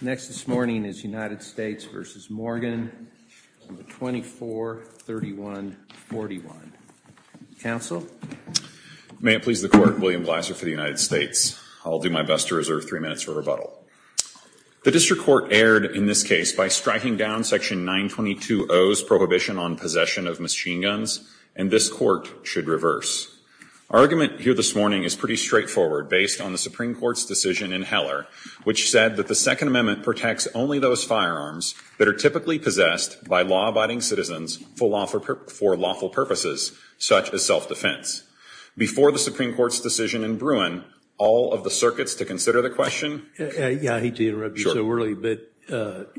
Next this morning is United States v. Morgan, 2431.41. Counsel? May it please the court, William Blaser for the United States. I'll do my best to reserve three minutes for rebuttal. The district court erred in this case by striking down section 922.0's prohibition on possession of machine guns, and this court should reverse. Argument here this morning is pretty straightforward based on the Supreme Court's decision in Heller, which said that the Second Amendment protects only those firearms that are typically possessed by law-abiding citizens for lawful purposes, such as self-defense. Before the Supreme Court's decision in Bruin, all of the circuits to consider the question? Yeah, I hate to interrupt you so early, but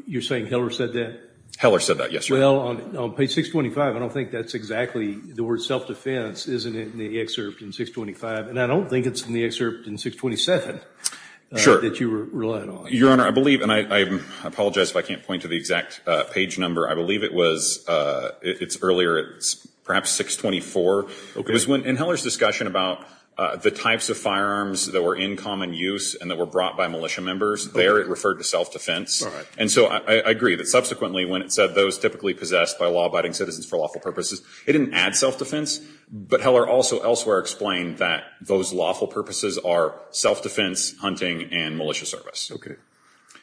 you're saying Heller said that? Heller said that, yes, sir. Well, on page 625, I don't think that's exactly the word self-defense, isn't it, in the excerpt in 625? And I don't think it's in the excerpt in 627 that you relied on. Your Honor, I believe, and I apologize if I can't point to the exact page number, I believe it's earlier, perhaps 624. In Heller's discussion about the types of firearms that were in common use and that were brought by militia members, there it referred to self-defense. And so I agree that subsequently when it said those typically possessed by law-abiding citizens for lawful purposes, it didn't add self-defense. But Heller also elsewhere explained that those lawful purposes are self-defense, hunting, and militia service.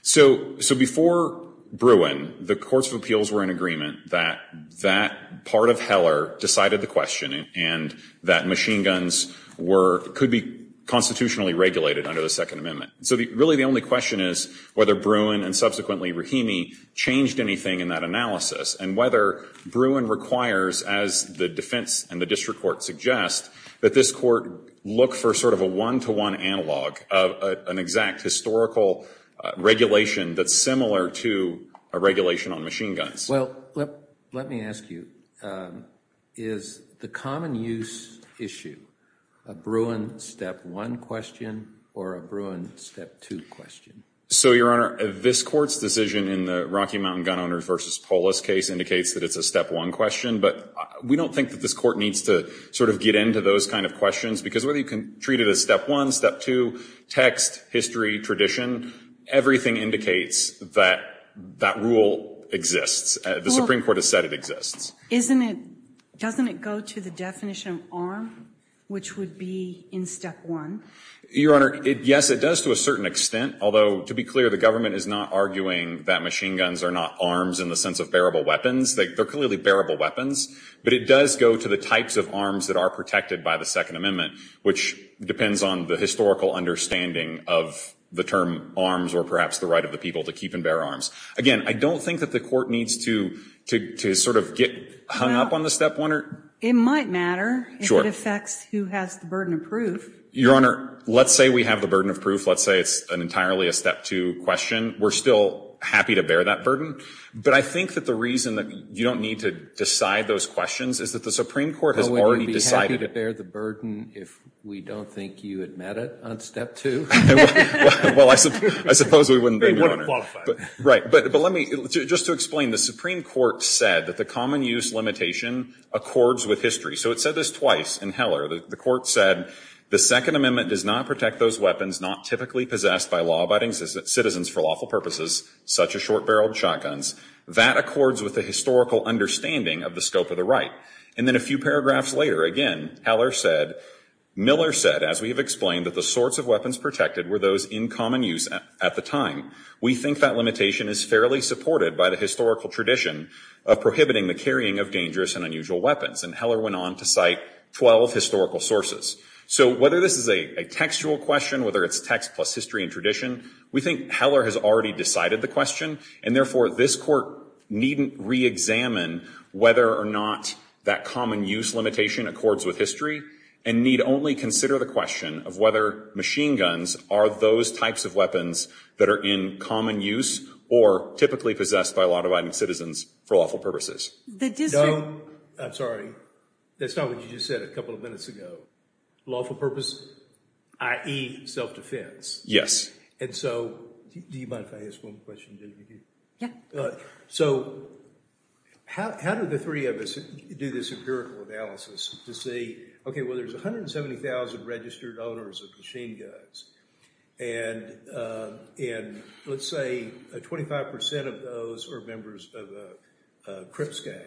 So before Bruin, the courts of appeals were in agreement that that part of Heller decided the question and that machine guns could be constitutionally regulated under the Second Amendment. So really, the only question is whether Bruin and subsequently Rahimi changed anything in that analysis and whether Bruin requires, as the defense and the district court suggest, that this court look for sort of a one-to-one analog of an exact historical regulation that's similar to a regulation on machine guns. Well, let me ask you. Is the common use issue a Bruin step one question or a Bruin step two question? So, Your Honor, this court's decision in the Rocky Mountain Gun Owners versus Polis case indicates that it's a step one question. But we don't think that this court needs to sort of get into those kind of questions. Because whether you can treat it as step one, step two, text, history, tradition, everything indicates that that rule exists. The Supreme Court has said it exists. Doesn't it go to the definition of arm, which would be in step one? Your Honor, yes, it does to a certain extent. Although, to be clear, the government is not arguing that machine guns are not arms in the sense of bearable weapons. They're clearly bearable weapons. But it does go to the types of arms that are protected by the Second Amendment, which depends on the historical understanding of the term arms or perhaps the right of the people to keep and bear arms. Again, I don't think that the court needs to sort of get hung up on the step one. It might matter if it affects who has the burden of proof. Your Honor, let's say we have the burden of proof. Let's say it's entirely a step two question. We're still happy to bear that burden. But I think that the reason that you don't need to decide those questions is that the Supreme Court has already decided it. I wouldn't be happy to bear the burden if we don't think you admit it on step two. Well, I suppose we wouldn't, then, Your Honor. They wouldn't qualify. Right. But let me just to explain. The Supreme Court said that the common use limitation accords with history. So it said this twice in Heller. The court said, the Second Amendment does not protect those weapons not typically possessed by law-abiding citizens for lawful purposes, such as short-barreled shotguns. That accords with the historical understanding of the scope of the right. And then a few paragraphs later, again, Miller said, as we have explained, that the sorts of weapons protected were those in common use at the time. We think that limitation is fairly supported by the historical tradition of prohibiting the carrying of dangerous and unusual weapons. And Heller went on to cite 12 historical sources. So whether this is a textual question, whether it's text plus history and tradition, we think Heller has already decided the question. And therefore, this court needn't re-examine whether or not that common use limitation accords with history, and need only consider the question of whether machine guns are those types of weapons that are in common use or typically possessed by law-abiding citizens for lawful purposes. The district. No. I'm sorry. That's not what you just said a couple of minutes ago. Lawful purpose, i.e. self-defense. Yes. Do you mind if I ask one question, Genevieve? Yeah. So how do the three of us do this empirical analysis to say, OK, well, there's 170,000 registered owners of machine guns. And let's say 25% of those are members of a Crips gang.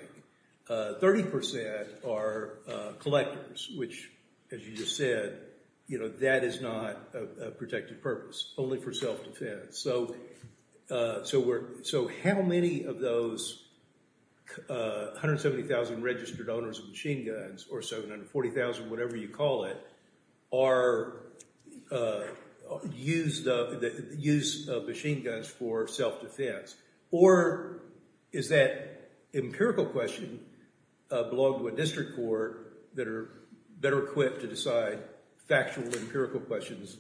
30% are collectors, which, as you just said, that is not a protected purpose. Only for self-defense. So how many of those 170,000 registered owners of machine guns, or 740,000, whatever you call it, are used of machine guns for self-defense? Or is that empirical question belong to a district court that are equipped to decide factual, empirical questions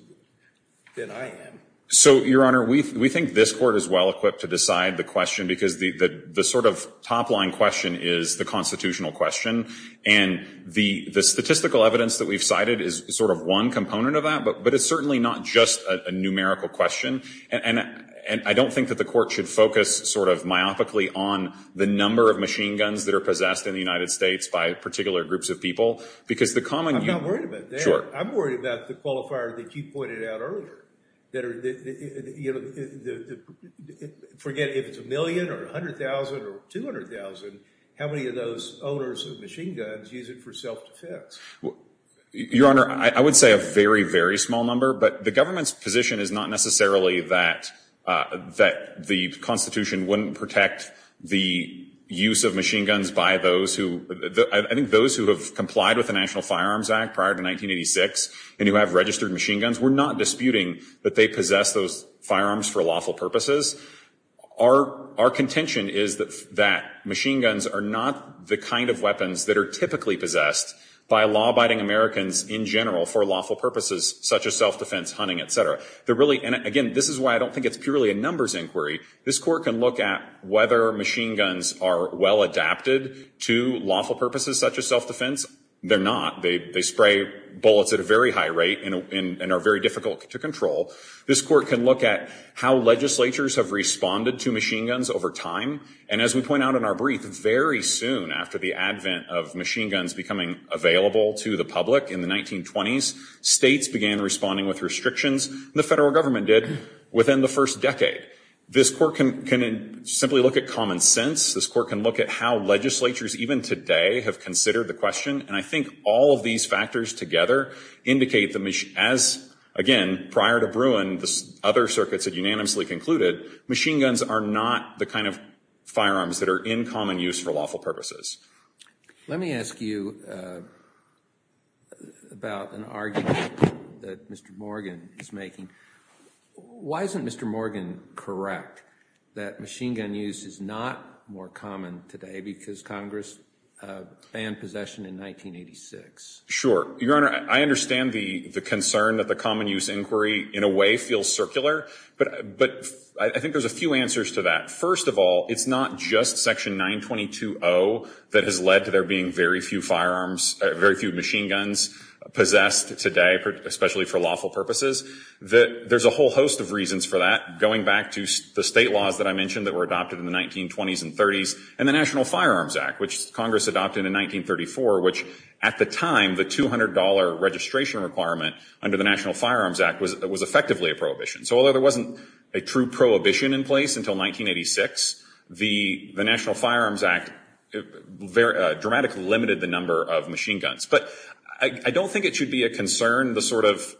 than I am? So, Your Honor, we think this court is well-equipped to decide the question. Because the sort of top-line question is the constitutional question. And the statistical evidence that we've cited is sort of one component of that. But it's certainly not just a numerical question. And I don't think that the court should focus sort of myopically on the number of machine guns that are possessed in the United States by particular groups of people. Because the common view. I'm not worried about that. I'm worried about the qualifier that you pointed out earlier. Forget if it's a million, or 100,000, or 200,000. How many of those owners of machine guns use it for self-defense? Your Honor, I would say a very, very small number. But the government's position is not necessarily that the Constitution wouldn't protect the use of machine guns by those who have complied with the National Firearms Act prior to 1986 and who have registered machine guns. We're not disputing that they possess those firearms for lawful purposes. Our contention is that machine guns are not the kind of weapons that are typically possessed by law-abiding Americans in general for lawful purposes, such as self-defense, hunting, et cetera. And again, this is why I don't think it's purely a numbers inquiry. This court can look at whether machine guns are well-adapted to lawful purposes, such as self-defense. They're not. They spray bullets at a very high rate and are very difficult to control. This court can look at how legislatures have responded to machine guns over time. And as we point out in our brief, very soon after the advent of machine guns becoming available to the public in the 1920s, states began responding with restrictions. The federal government did within the first decade. This court can simply look at common sense. This court can look at how legislatures, even today, have considered the question. And I think all of these factors together indicate that, as, again, prior to Bruin, the other circuits had unanimously concluded, machine guns are not the kind of firearms that are in common use for lawful purposes. Let me ask you about an argument that Mr. Morgan is making. Why isn't Mr. Morgan correct that machine gun use is not more common today because Congress banned possession in 1986? Your Honor, I understand the concern that the common use inquiry, in a way, feels circular. But I think there's a few answers to that. First of all, it's not just Section 922-0 that has led to there being very few firearms, very few machine guns possessed today, especially for lawful purposes. There's a whole host of reasons for that, going back to the state laws that I mentioned that were adopted in the 1920s and 30s, and the National Firearms Act, which Congress adopted in 1934, which, at the time, the $200 registration requirement under the National Firearms Act was effectively a prohibition. So although there wasn't a true prohibition in place until 1986, the National Firearms Act dramatically limited the number of machine guns. But I don't think it should be a concern, the sort of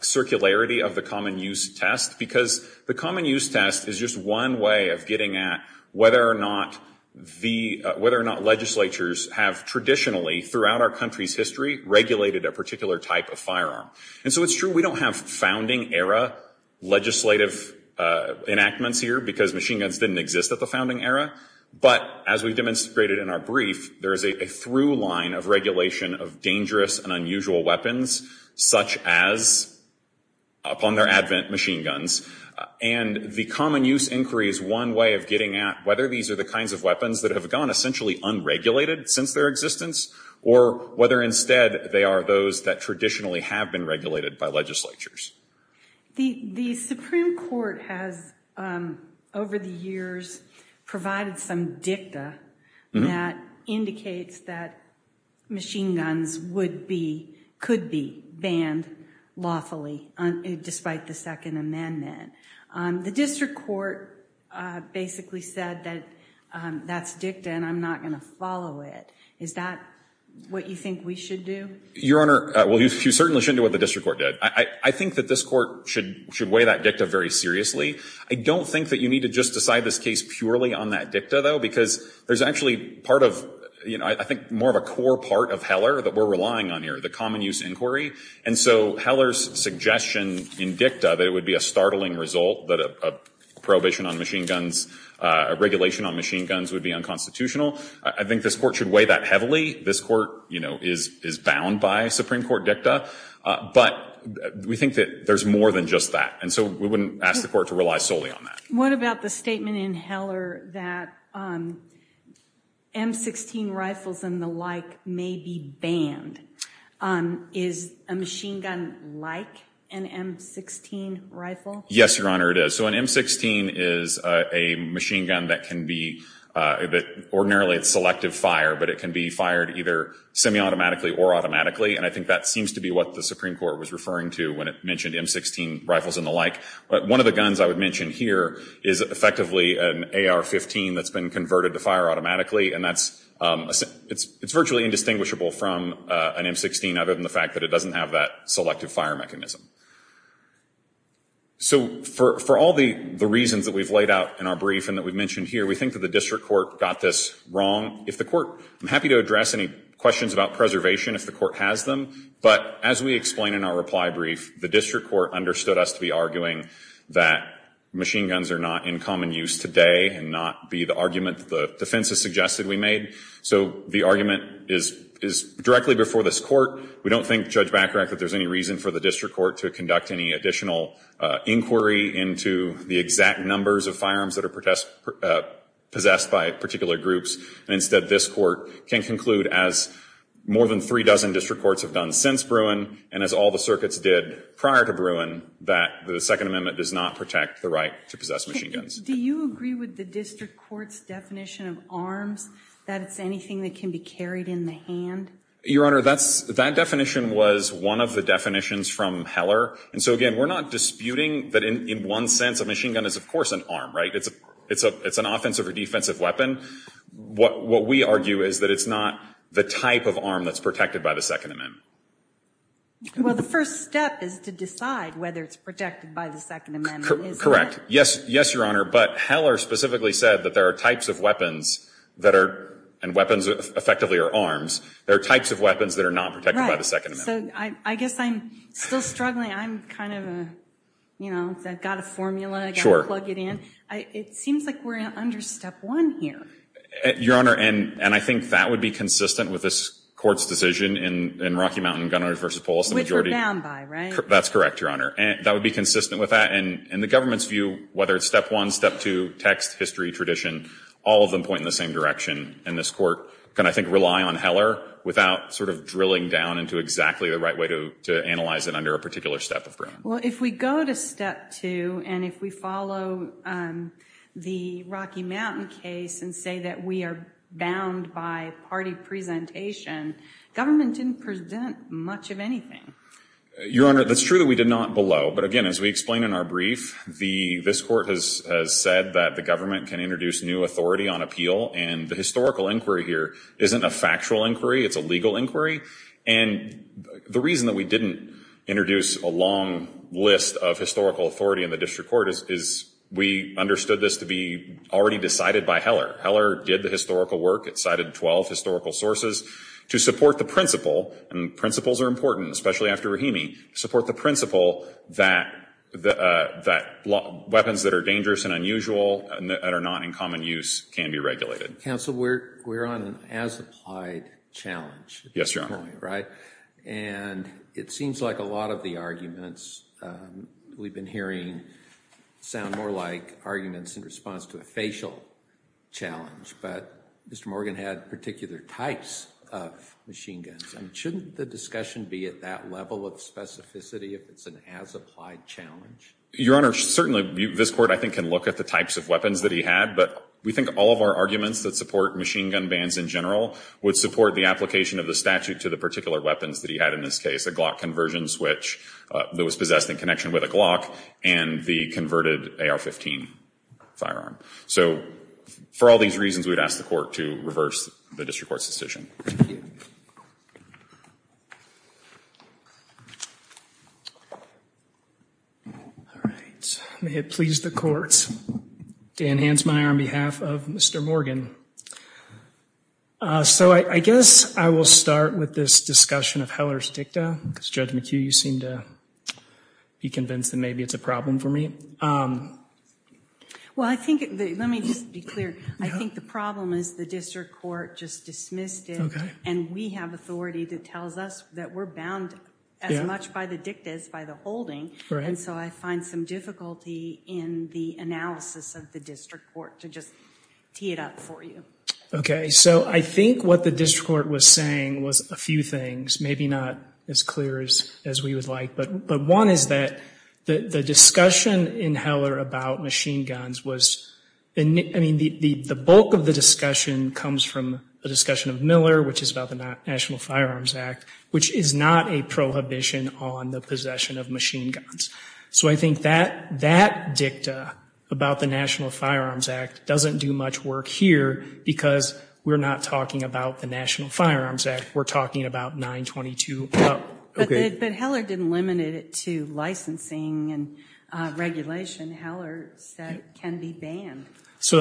circularity of the common use test, because the common use test is just one way of getting at whether or not legislatures have traditionally, throughout our country's history, regulated a particular type of firearm. And so it's true we don't have founding era legislative enactments here, because machine guns didn't exist at the founding era. But as we've demonstrated in our brief, there is a through line of regulation of dangerous and unusual weapons, such as, upon their advent, machine guns. And the common use inquiry is one way of getting at whether these are the kinds of weapons that have gone essentially unregulated since their existence, or whether instead they are those that traditionally have been regulated by legislatures. The Supreme Court has, over the years, provided some dicta that indicates that machine guns could be banned lawfully, despite the Second Amendment. The district court basically said that that's dicta, and I'm not going to follow it. Is that what you think we should do? Your Honor, well, you certainly shouldn't do what the district court did. I think that this court should weigh that dicta very seriously. I don't think that you need to just decide this case purely on that dicta, though, because there's actually part of, I think, more of a core part of Heller that we're relying on here, the common use inquiry. And so Heller's suggestion in dicta that it would be a startling result that a prohibition on machine guns, a regulation on machine guns would be unconstitutional, I think this court should weigh that heavily. This court is bound by Supreme Court dicta. But we think that there's more than just that. And so we wouldn't ask the court to rely solely on that. What about the statement in Heller that M16 rifles and the like may be banned? Is a machine gun like an M16 rifle? Yes, Your Honor, it is. So an M16 is a machine gun that can be, ordinarily, it's selective fire. But it can be fired either semi-automatically or automatically. And I think that seems to be what the Supreme Court was referring to when it mentioned M16 rifles and the like. But one of the guns I would mention here is effectively an AR-15 that's been converted to fire automatically. And it's virtually indistinguishable from an M16 other than the fact that it doesn't have that selective fire mechanism. So for all the reasons that we've laid out in our brief and that we've mentioned here, we think that the district court got this wrong. If the court, I'm happy to address any questions about preservation if the court has them. But as we explain in our reply brief, the district court understood us to be arguing that machine guns are not in common use today and not be the argument that the defense has suggested we made. So the argument is directly before this court. We don't think, Judge Bacarach, that there's any reason for the district court to conduct any additional inquiry into the exact numbers of firearms that are possessed by particular groups. And instead, this court can conclude, as more than three dozen district courts have done since Bruin, and as all the circuits did prior to Bruin, that the Second Amendment does not protect the right to possess machine guns. Do you agree with the district court's definition of arms, that it's anything that can be carried in the hand? Your Honor, that definition was one of the definitions from Heller. And so again, we're not disputing that in one sense, a machine gun is, of course, an arm, right? It's an offensive or defensive weapon. What we argue is that it's not the type of arm that's protected by the Second Amendment. Well, the first step is to decide whether it's protected by the Second Amendment. Correct. Yes, Your Honor. But Heller specifically said that there are types of weapons that are, and weapons effectively are arms, there are types of weapons that are not protected by the Second Amendment. So I guess I'm still struggling. I'm kind of a, you know, I've got a formula. I've got to plug it in. It seems like we're under step one here. Your Honor, and I think that would be consistent with this court's decision in Rocky Mountain gun owners versus police. Which we're bound by, right? That's correct, Your Honor. That would be consistent with that. And the government's view, whether it's step one, step two, text, history, tradition, all of them point in the same direction. And this court can, I think, rely on Heller without sort of drilling down into exactly the right way to analyze it under a particular step of Brown. Well, if we go to step two, and if we follow the Rocky Mountain case and say that we are bound by party presentation, government didn't present much of anything. Your Honor, that's true that we did not below. But again, as we explained in our brief, this court has said that the government can introduce new authority on appeal. And the historical inquiry here isn't a factual inquiry. It's a legal inquiry. And the reason that we didn't introduce a long list of historical authority in the district court is we understood this to be already decided by Heller. Heller did the historical work. It cited 12 historical sources to support the principle, and principles are important, especially after Rahimi, support the principle that weapons that are dangerous and unusual and that are not in common use can be regulated. Counsel, we're on an as-applied challenge. Yes, Your Honor. And it seems like a lot of the arguments we've been hearing sound more like arguments in response to a facial challenge. But Mr. Morgan had particular types of machine guns. And shouldn't the discussion be at that level of specificity if it's an as-applied challenge? Your Honor, certainly this court, I think, can look at the types of weapons that he had. But we think all of our arguments that support machine gun bans in general would support the application of the statute to the particular weapons that he had in this case, a Glock conversion switch that was possessed in connection with a Glock, and the converted AR-15 firearm. So for all these reasons, we'd ask the court to reverse the district court's decision. Thank you. All right. May it please the courts. Dan Hansmeier on behalf of Mr. Morgan. So I guess I will start with this discussion of heller's dicta, because Judge McHugh, you seem to be convinced that maybe it's a problem for me. Well, let me just be clear. I think the problem is the district court just dismissed it. And we have authority that tells us that we're bound as much by the dicta as by the holding. And so I find some difficulty in the analysis of the district court to just tee it up for you. OK, so I think what the district court was saying was a few things. Maybe not as clear as we would like. But one is that the discussion in heller about machine guns was, I mean, the bulk of the discussion comes from a discussion of Miller, which is about the National Firearms Act, which is not a prohibition on the possession of machine guns. So I think that dicta about the National Firearms Act doesn't do much work here, because we're not talking about the National Firearms Act. We're talking about 922 up. But heller didn't limit it to licensing and regulation. Heller said it can be banned. So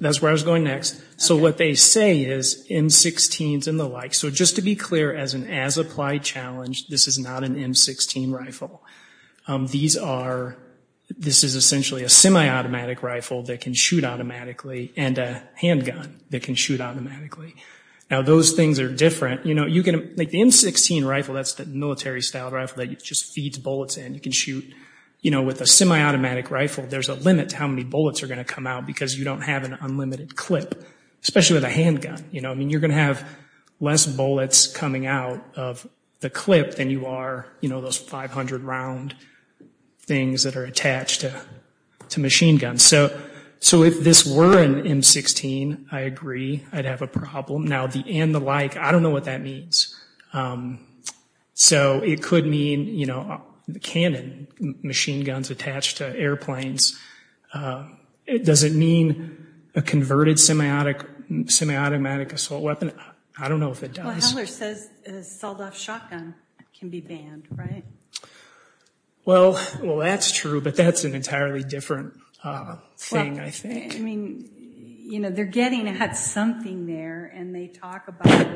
that's where I was going next. So what they say is M16s and the like. So just to be clear, as an as-applied challenge, this is not an M16 rifle. These are, this is essentially a semi-automatic rifle that can shoot automatically, and a handgun that can shoot automatically. Now, those things are different. You know, you can, like the M16 rifle, that's the military-style rifle that just feeds bullets in. You can shoot, you know, with a semi-automatic rifle, there's a limit to how many bullets are going to come out, because you don't have an unlimited clip, especially with a handgun. You know, I mean, you're going to have less bullets coming out of the clip than you are, you know, those 500-round things that are attached to machine guns. So if this were an M16, I agree, I'd have a problem. Now, the and the like, I don't know what that means. So it could mean, you know, the cannon, machine guns attached to airplanes. Does it mean a converted semi-automatic assault weapon? I don't know if it does. Well, Hendler says a sold-off shotgun can be banned, right? Well, that's true. But that's an entirely different thing, I think. I mean, you know, they're getting at something there. And they talk about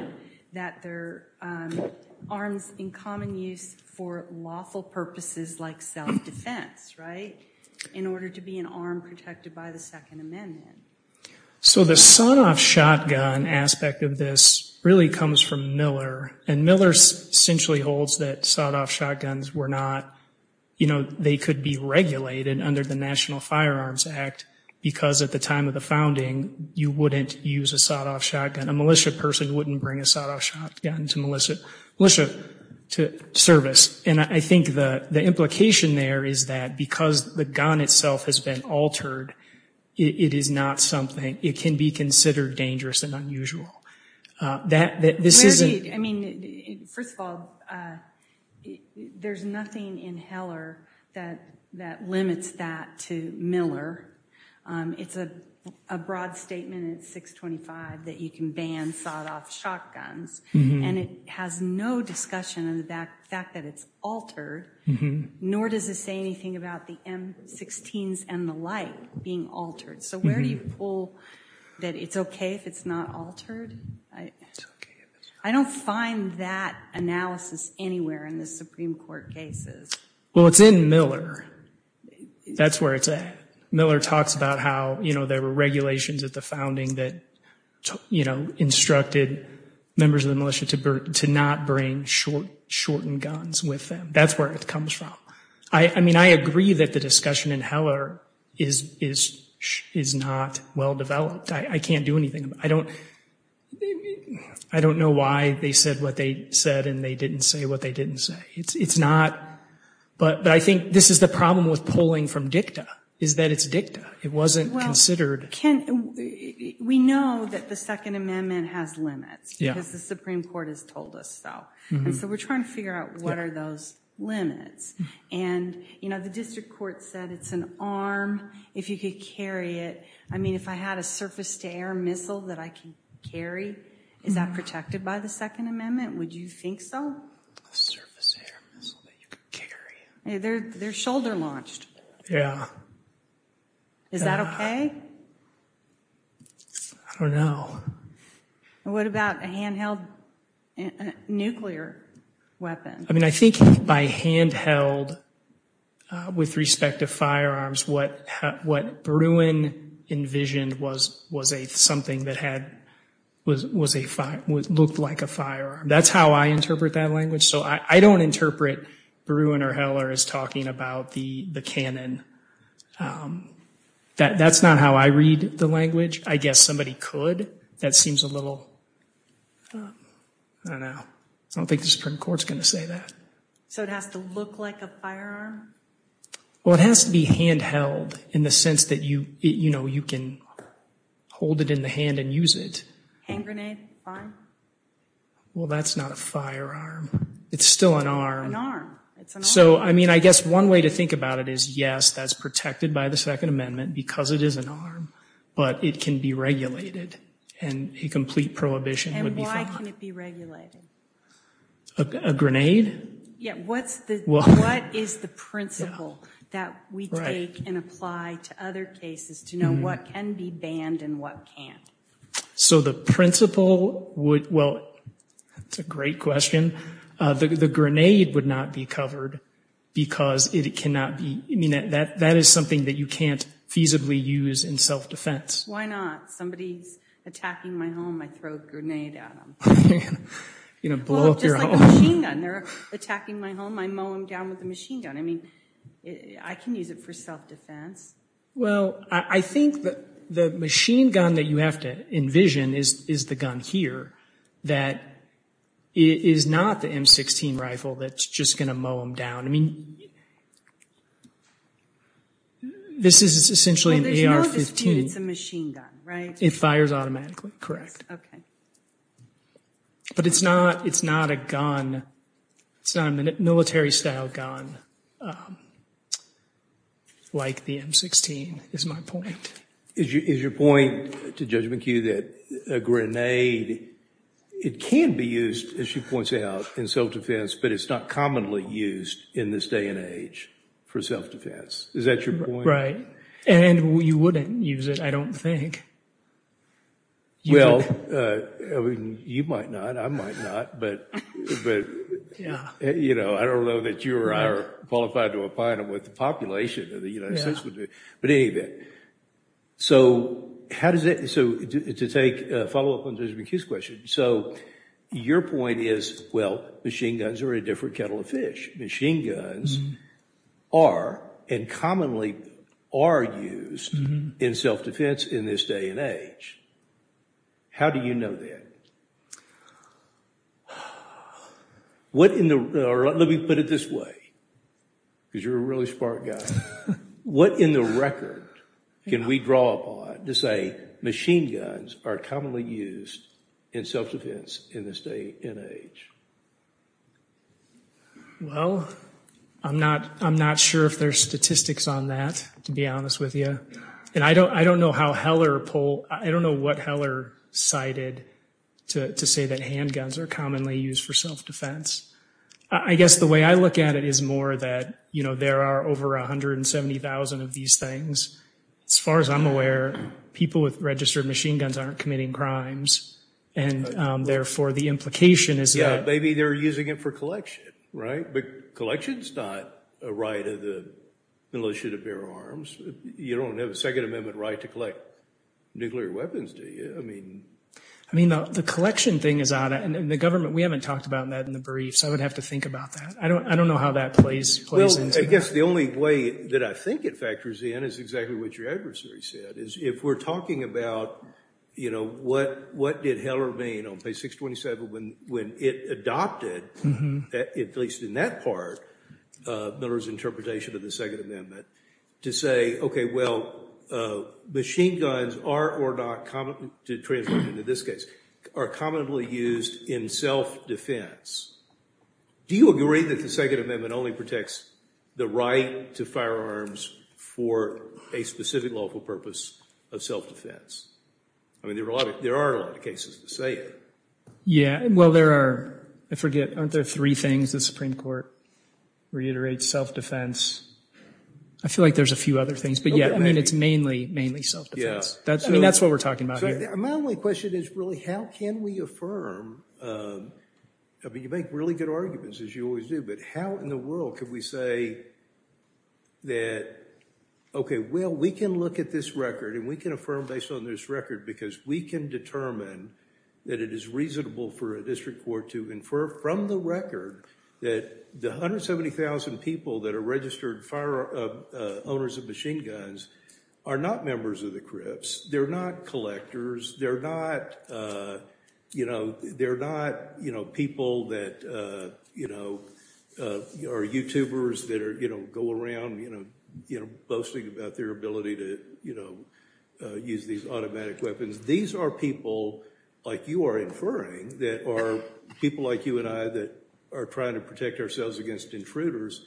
that they're arms in common use for lawful purposes like self-defense, right, in order to be an arm protected by the Second Amendment. So the sold-off shotgun aspect of this really comes from Miller. And Miller essentially holds that sold-off shotguns were not, you know, they could be regulated under the National Firearms Act because at the time of the founding, you wouldn't use a sold-off shotgun. A militia person wouldn't bring a sold-off shotgun to militia service. And I think the implication there is that because the gun itself has been altered, it is not something, it can be considered dangerous and unusual. That this isn't. I mean, first of all, there's nothing in Heller that limits that to Miller. It's a broad statement in 625 that you can ban sold-off shotguns. And it has no discussion of the fact that it's altered, nor does it say anything about the M-16s and the like being altered. So where do you pull that it's OK if it's not altered? I don't find that analysis anywhere in the Supreme Court cases. Well, it's in Miller. That's where it's at. Miller talks about how there were regulations at the founding that instructed members of the militia to not bring shortened guns with them. That's where it comes from. I mean, I agree that the discussion in Heller is not well-developed. I can't do anything. I don't know why they said what they said, and they didn't say what they didn't say. It's not. But I think this is the problem with pulling from dicta, is that it's dicta. It wasn't considered. We know that the Second Amendment has limits, because the Supreme Court has told us so. And so we're trying to figure out what are those limits. And the district court said it's an arm. If you could carry it. I mean, if I had a surface-to-air missile that I can carry, is that protected by the Second Amendment? Would you think so? A surface-to-air missile that you could carry? They're shoulder-launched. Yeah. Is that OK? I don't know. What about a hand-held nuclear weapon? I mean, I think by hand-held, with respect to firearms, what Bruin envisioned was something that looked like a firearm. That's how I interpret that language. So I don't interpret Bruin or Heller as talking about the canon. That's not how I read the language. I guess somebody could. That seems a little, I don't know. I don't think the Supreme Court's going to say that. So it has to look like a firearm? Well, it has to be hand-held in the sense that you can hold it in the hand and use it. Hand grenade, fine. Well, that's not a firearm. It's still an arm. An arm. So I mean, I guess one way to think about it is, yes, that's protected by the Second Amendment because it is an arm. But it can be regulated. And a complete prohibition would be fine. How can it be regulated? A grenade? Yeah, what is the principle that we take and apply to other cases to know what can be banned and what can't? So the principle would, well, that's a great question. The grenade would not be covered because it cannot be. I mean, that is something that you can't feasibly use in self-defense. Why not? Somebody's attacking my home. I throw a grenade at them. You know, blow up your home. Well, just like a machine gun. They're attacking my home. I mow them down with a machine gun. I mean, I can use it for self-defense. Well, I think that the machine gun that you have to envision is the gun here. That is not the M16 rifle that's just going to mow them down. I mean, this is essentially an AR-15. Well, there's no dispute it's a machine gun. It fires automatically. Correct. OK. But it's not a gun. It's not a military-style gun like the M16 is my point. Is your point to Judge McHugh that a grenade, it can be used, as she points out, in self-defense, but it's not commonly used in this day and age for self-defense? Is that your point? Right. And you wouldn't use it, I don't think. Well, you might not. I might not. But I don't know that you or I are qualified to opine on what the population of the United States would do. But in any event, so to take a follow-up on Judge McHugh's question, so your point is, well, machine guns are a different kettle of fish. Machine guns are and commonly are used in self-defense in this day and age. How do you know that? What in the, or let me put it this way, because you're a really smart guy. What in the record can we draw upon to say machine guns are commonly used in self-defense in this day and age? Well, I'm not sure if there's statistics on that, to be honest with you. And I don't know how Heller, I don't know what Heller cited to say that handguns are commonly used for self-defense. I guess the way I look at it is more that there are over 170,000 of these things. As far as I'm aware, people with registered machine guns aren't committing crimes. And therefore, the implication is that. Yeah, maybe they're using it for collection, right? But collection's not a right of the militia to bear arms. You don't have a Second Amendment right to collect nuclear weapons, do you? I mean. I mean, the collection thing is out. And the government, we haven't talked about that in the brief, so I would have to think about that. I don't know how that plays into that. Well, I guess the only way that I think it factors in is exactly what your adversary said, is if we're talking about what did Heller mean on page 627 when it adopted, at least in that part, Miller's interpretation of the Second Amendment, to say, OK, well, machine guns are or not commonly, to translate into this case, are commonly used in self-defense. Do you agree that the Second Amendment only protects the right to firearms for a specific lawful purpose of self-defense? I mean, there are a lot of cases to say that. Yeah, well, there are, I forget, aren't there three things the Supreme Court reiterates? Self-defense. I feel like there's a few other things. But yeah, I mean, it's mainly, mainly self-defense. I mean, that's what we're talking about here. So my only question is, really, how can we affirm? I mean, you make really good arguments, as you always do. But how in the world could we say that, OK, well, we can look at this record, and we can affirm based on this record, because we can determine that it is reasonable for a district court to infer from the record that the 170,000 people that are registered owners of machine guns are not members of the Crips. They're not collectors. They're not people that are YouTubers that go around boasting about their ability to use these automatic weapons. These are people, like you are inferring, that are people like you and I that are trying to protect ourselves against intruders.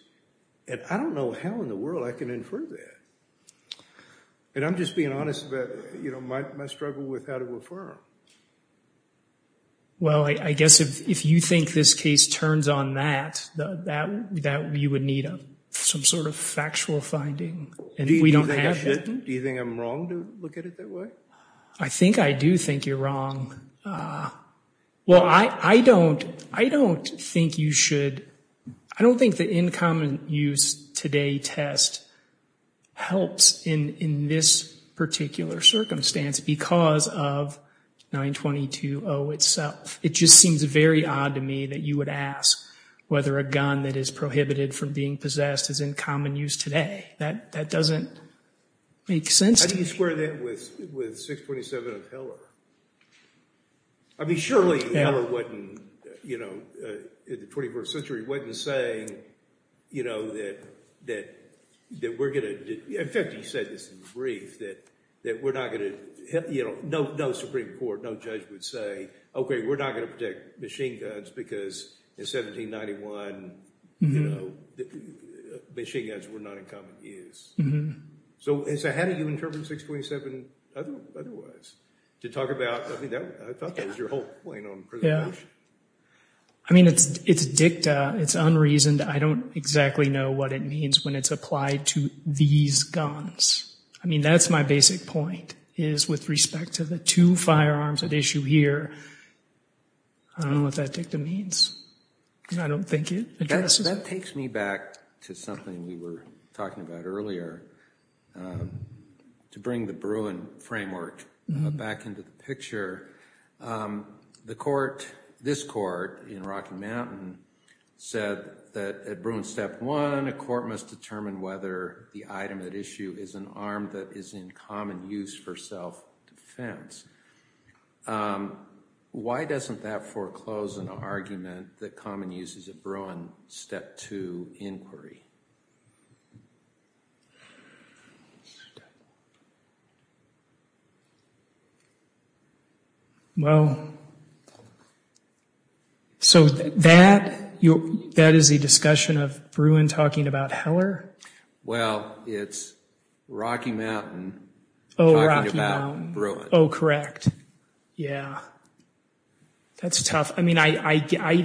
And I don't know how in the world I can infer that. And I'm just being honest about my struggle with how to affirm. Well, I guess if you think this case turns on that, that you would need some sort of factual finding. And if we don't have that, do you think I'm wrong to look at it that way? I think I do think you're wrong. Well, I don't think you should. I don't think the In Common Use Today test helps in this particular circumstance because of 922-0 itself. It just seems very odd to me that you would ask whether a gun that is prohibited from being possessed is in common use today. That doesn't make sense to me. How do you square that with 627 of Heller? I mean, surely Heller wouldn't, in the 21st century, wouldn't say that we're going to, in fact, he said this in the brief, that we're not going to, no Supreme Court, no judge would say, OK, we're not going to protect machine guns because in 1791, machine guns were not in common use. So how do you interpret 627 otherwise? To talk about, I mean, I thought that was your whole point on preservation. I mean, it's dicta. It's unreasoned. I don't exactly know what it means when it's applied to these guns. I mean, that's my basic point, is with respect to the two firearms at issue here, I don't know what that dicta means. I don't think it addresses it. That takes me back to something we were talking about earlier, to bring the Bruin framework back into the picture. The court, this court in Rocky Mountain, said that at Bruin step one, a court must determine whether the item at issue is an arm that is in common use for self-defense. Why doesn't that foreclose an argument that common use is a Bruin step two inquiry? Well, so that is the discussion of Bruin talking about Heller? Well, it's Rocky Mountain talking about Bruin. Oh, correct. Yeah. That's tough. I mean, I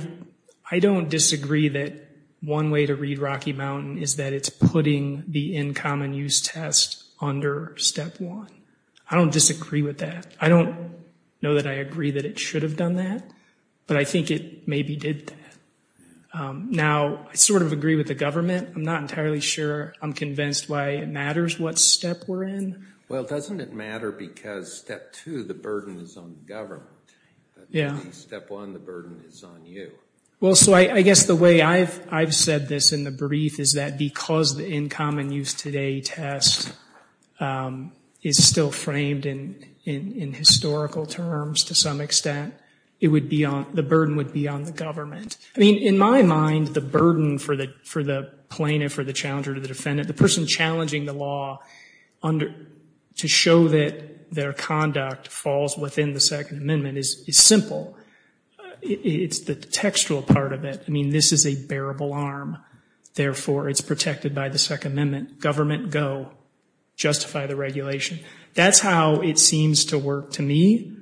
don't disagree that one way to read Rocky Mountain is that it's putting the in common use test under step one. I don't disagree with that. I don't know that I agree that it should have done that, but I think it maybe did that. Now, I sort of agree with the government. I'm not entirely sure I'm convinced why it matters what step we're in. Well, doesn't it matter because step two, the burden is on the government? Yeah. Step one, the burden is on you. Well, so I guess the way I've said this in the brief is that because the in common use today test is still framed in historical terms to some extent, the burden would be on the government. I mean, in my mind, the burden for the plaintiff or the challenger to the defendant, the person challenging the law to show that their conduct falls within the Second Amendment is simple. It's the textual part of it. I mean, this is a bearable arm. Therefore, it's protected by the Second Amendment. Government, go. Justify the regulation. That's how it seems to work to me.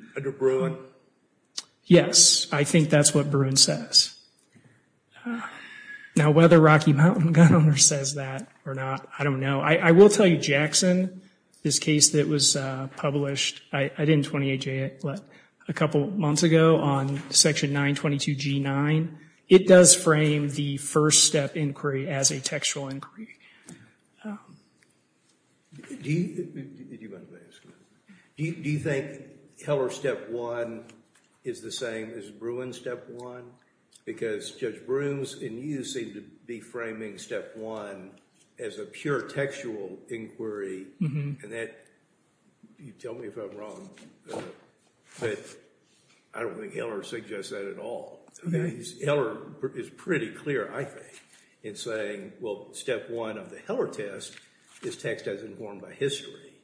Yes. I think that's what Bruin says. Now, whether Rocky Mountain gun owner says that or not, I don't know. I will tell you Jackson, this case that was published, I didn't 28J it, but a couple of months ago on section 922G9, it does frame the first step inquiry as a textual inquiry. Do you think Heller's step one is the same as Bruin's step one? Because Judge Brooms and you seem to be framing step one as a pure textual inquiry. And that, you tell me if I'm wrong, but I don't think Heller suggests that at all. Heller is pretty clear, I think, in saying, well, step one of the Heller test is text as informed by history.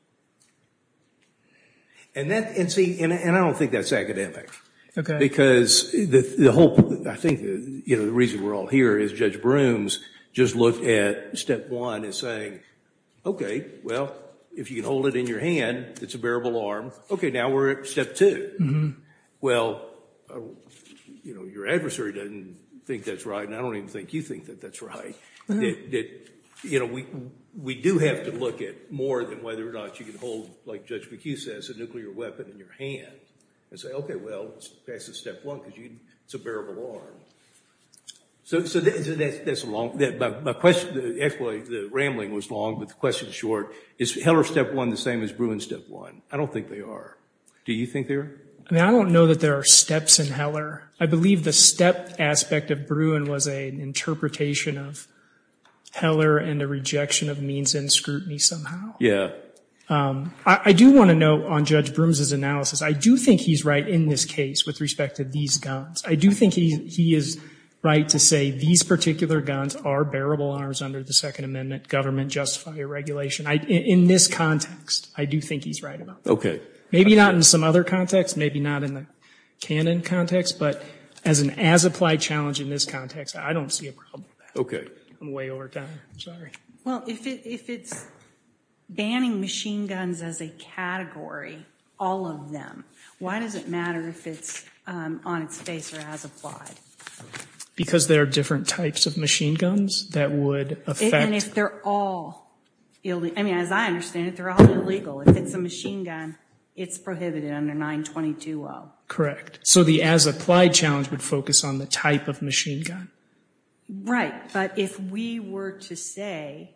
And see, and I don't think that's academic. Because I think the reason we're all here is Judge Brooms just looked at step one as saying, OK, well, if you can hold it in your hand, it's a bearable arm. OK, now we're at step two. Well, your adversary doesn't think that's right, and I don't even think you think that that's right. We do have to look at more than whether or not you can hold, like Judge McHugh says, a nuclear weapon in your hand. And say, OK, well, that's a step one because it's a bearable arm. So that's a long, my question, actually, the rambling was long, but the question's short. Is Heller step one the same as Bruin step one? I don't think they are. Do you think they are? I mean, I don't know that there are steps in Heller. I believe the step aspect of Bruin was an interpretation of Heller and a rejection of means and scrutiny somehow. Yeah. I do want to note on Judge Brooms' analysis, I do think he's right in this case with respect to these guns. I do think he is right to say these particular guns are bearable arms under the Second Amendment government just fire regulation. In this context, I do think he's right about that. OK. Maybe not in some other context, maybe not in the canon context, but as an as applied challenge in this context, I don't see a problem with that. I'm way over time, sorry. Well, if it's banning machine guns as a category, all of them, why does it matter if it's on its face or as applied? Because there are different types of machine guns that would affect. And if they're all, I mean, as I understand it, they're all illegal. If it's a machine gun, it's prohibited under 922-0. Correct. So the as applied challenge would focus on the type of machine gun. Right. But if we were to say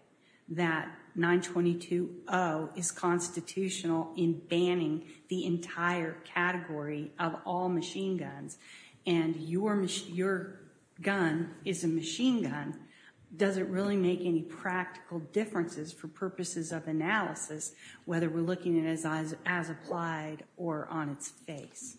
that 922-0 is constitutional in banning the entire category of all machine guns, and your gun is a machine gun, does it really make any practical differences for purposes of analysis, whether we're looking at it as applied or on its face?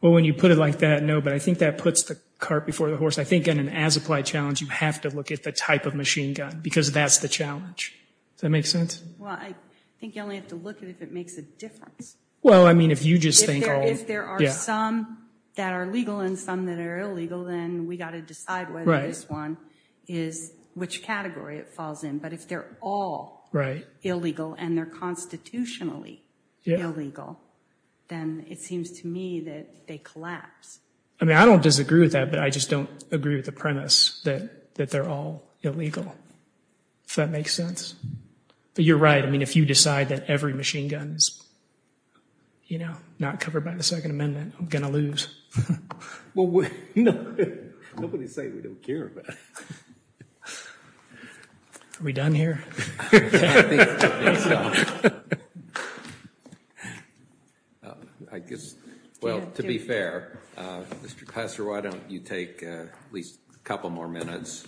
Well, when you put it like that, no. But I think that puts the cart before the horse. I think in an as applied challenge, you have to look at the type of machine gun, because that's the challenge. Does that make sense? Well, I think you only have to look at if it makes a difference. Well, I mean, if you just think all. If there are some that are legal and some that are illegal, then we got to decide whether this one is which category it falls in. But if they're all illegal and they're constitutionally illegal, then it seems to me that they collapse. I mean, I don't disagree with that, but I just don't agree with the premise that they're all illegal, if that makes sense. But you're right. I mean, if you decide that every machine gun is not covered by the Second Amendment, I'm going to lose. Well, nobody's saying we don't care about it. Are we done here? I think so. Well, I guess, well, to be fair, Mr. Klasser, why don't you take at least a couple more minutes,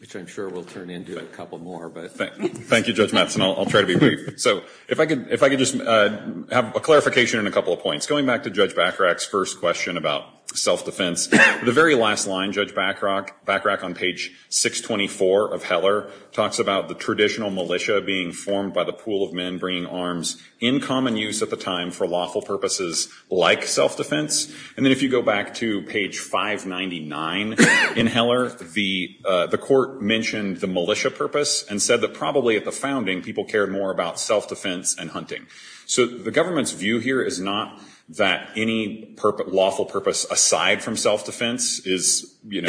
which I'm sure will turn into a couple more. Thank you, Judge Mattson. I'll try to be brief. So if I could just have a clarification and a couple of points. Going back to Judge Bacharach's first question about self-defense, the very last line, Judge Bacharach on page 624 of Heller talks about the traditional militia being formed by the pool of men bringing arms in common use at the time for lawful purposes like self-defense. And then if you go back to page 599 in Heller, the court mentioned the militia purpose and said that probably at the founding, people cared more about self-defense and hunting. So the government's view here is not that any lawful purpose aside from self-defense is we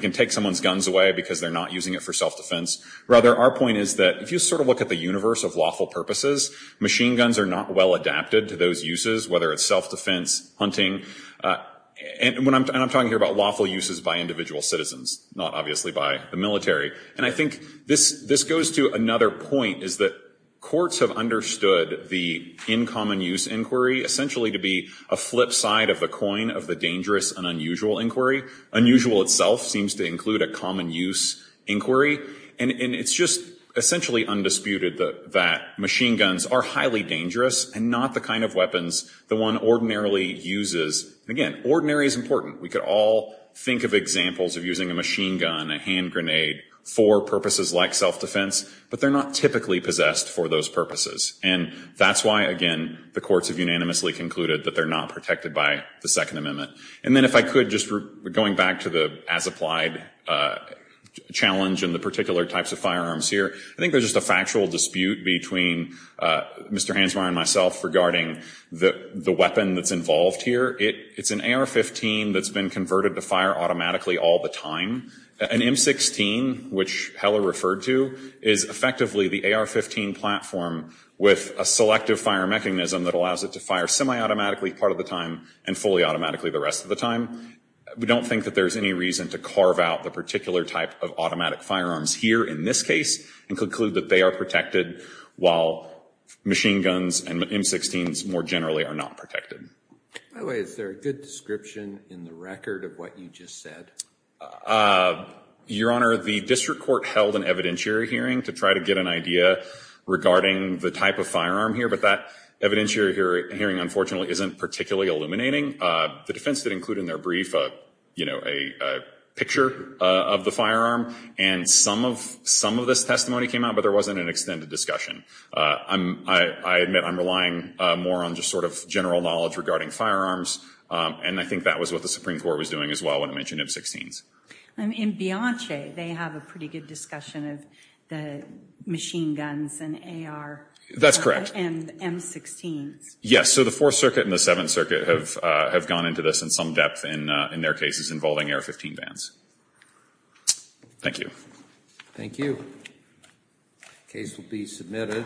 can take someone's guns away because they're not using it for self-defense. Rather, our point is that if you look at the universe of lawful purposes, machine guns are not well adapted to those uses, whether it's self-defense, hunting. And I'm talking here about lawful uses by individual citizens, not obviously by the military. And I think this goes to another point is that courts have understood the in common use inquiry essentially to be a flip side of the coin of the dangerous and unusual inquiry. Unusual itself seems to include a common use inquiry. And it's just essentially undisputed that machine guns are highly dangerous and not the kind of weapons that one ordinarily uses. Again, ordinary is important. We could all think of examples of using a machine gun, a hand grenade for purposes like self-defense. But they're not typically possessed for those purposes. And that's why, again, the courts have unanimously concluded that they're not protected by the Second Amendment. And then if I could, just going back to the as-applied challenge and the particular types of firearms here, I think there's just a factual dispute between Mr. Hansmeier and myself regarding the weapon that's involved here. It's an AR-15 that's been converted to fire automatically all the time. An M16, which Heller referred to, is effectively the AR-15 platform with a selective fire mechanism that allows it to fire semi-automatically part of the time and fully automatically the rest of the time. We don't think that there's any reason to carve out the particular type of automatic firearms here in this case and conclude that they are protected while machine guns and M16s more generally are not protected. By the way, is there a good description in the record of what you just said? Your Honor, the district court held an evidentiary hearing to try to get an idea regarding the type of firearm here. But that evidentiary hearing, unfortunately, isn't particularly illuminating. The defense did include in their brief a picture of the firearm. And some of this testimony came out, but there wasn't an extended discussion. I admit I'm relying more on just sort of general knowledge regarding firearms. And I think that was what the Supreme Court was doing as well when it mentioned M16s. In Bianche, they have a pretty good discussion of the machine guns and AR and M16s. Yes, so the Fourth Circuit and the Seventh Circuit have gone into this in some depth in their cases involving AR-15 bans. Thank you. Thank you. Case will be submitted.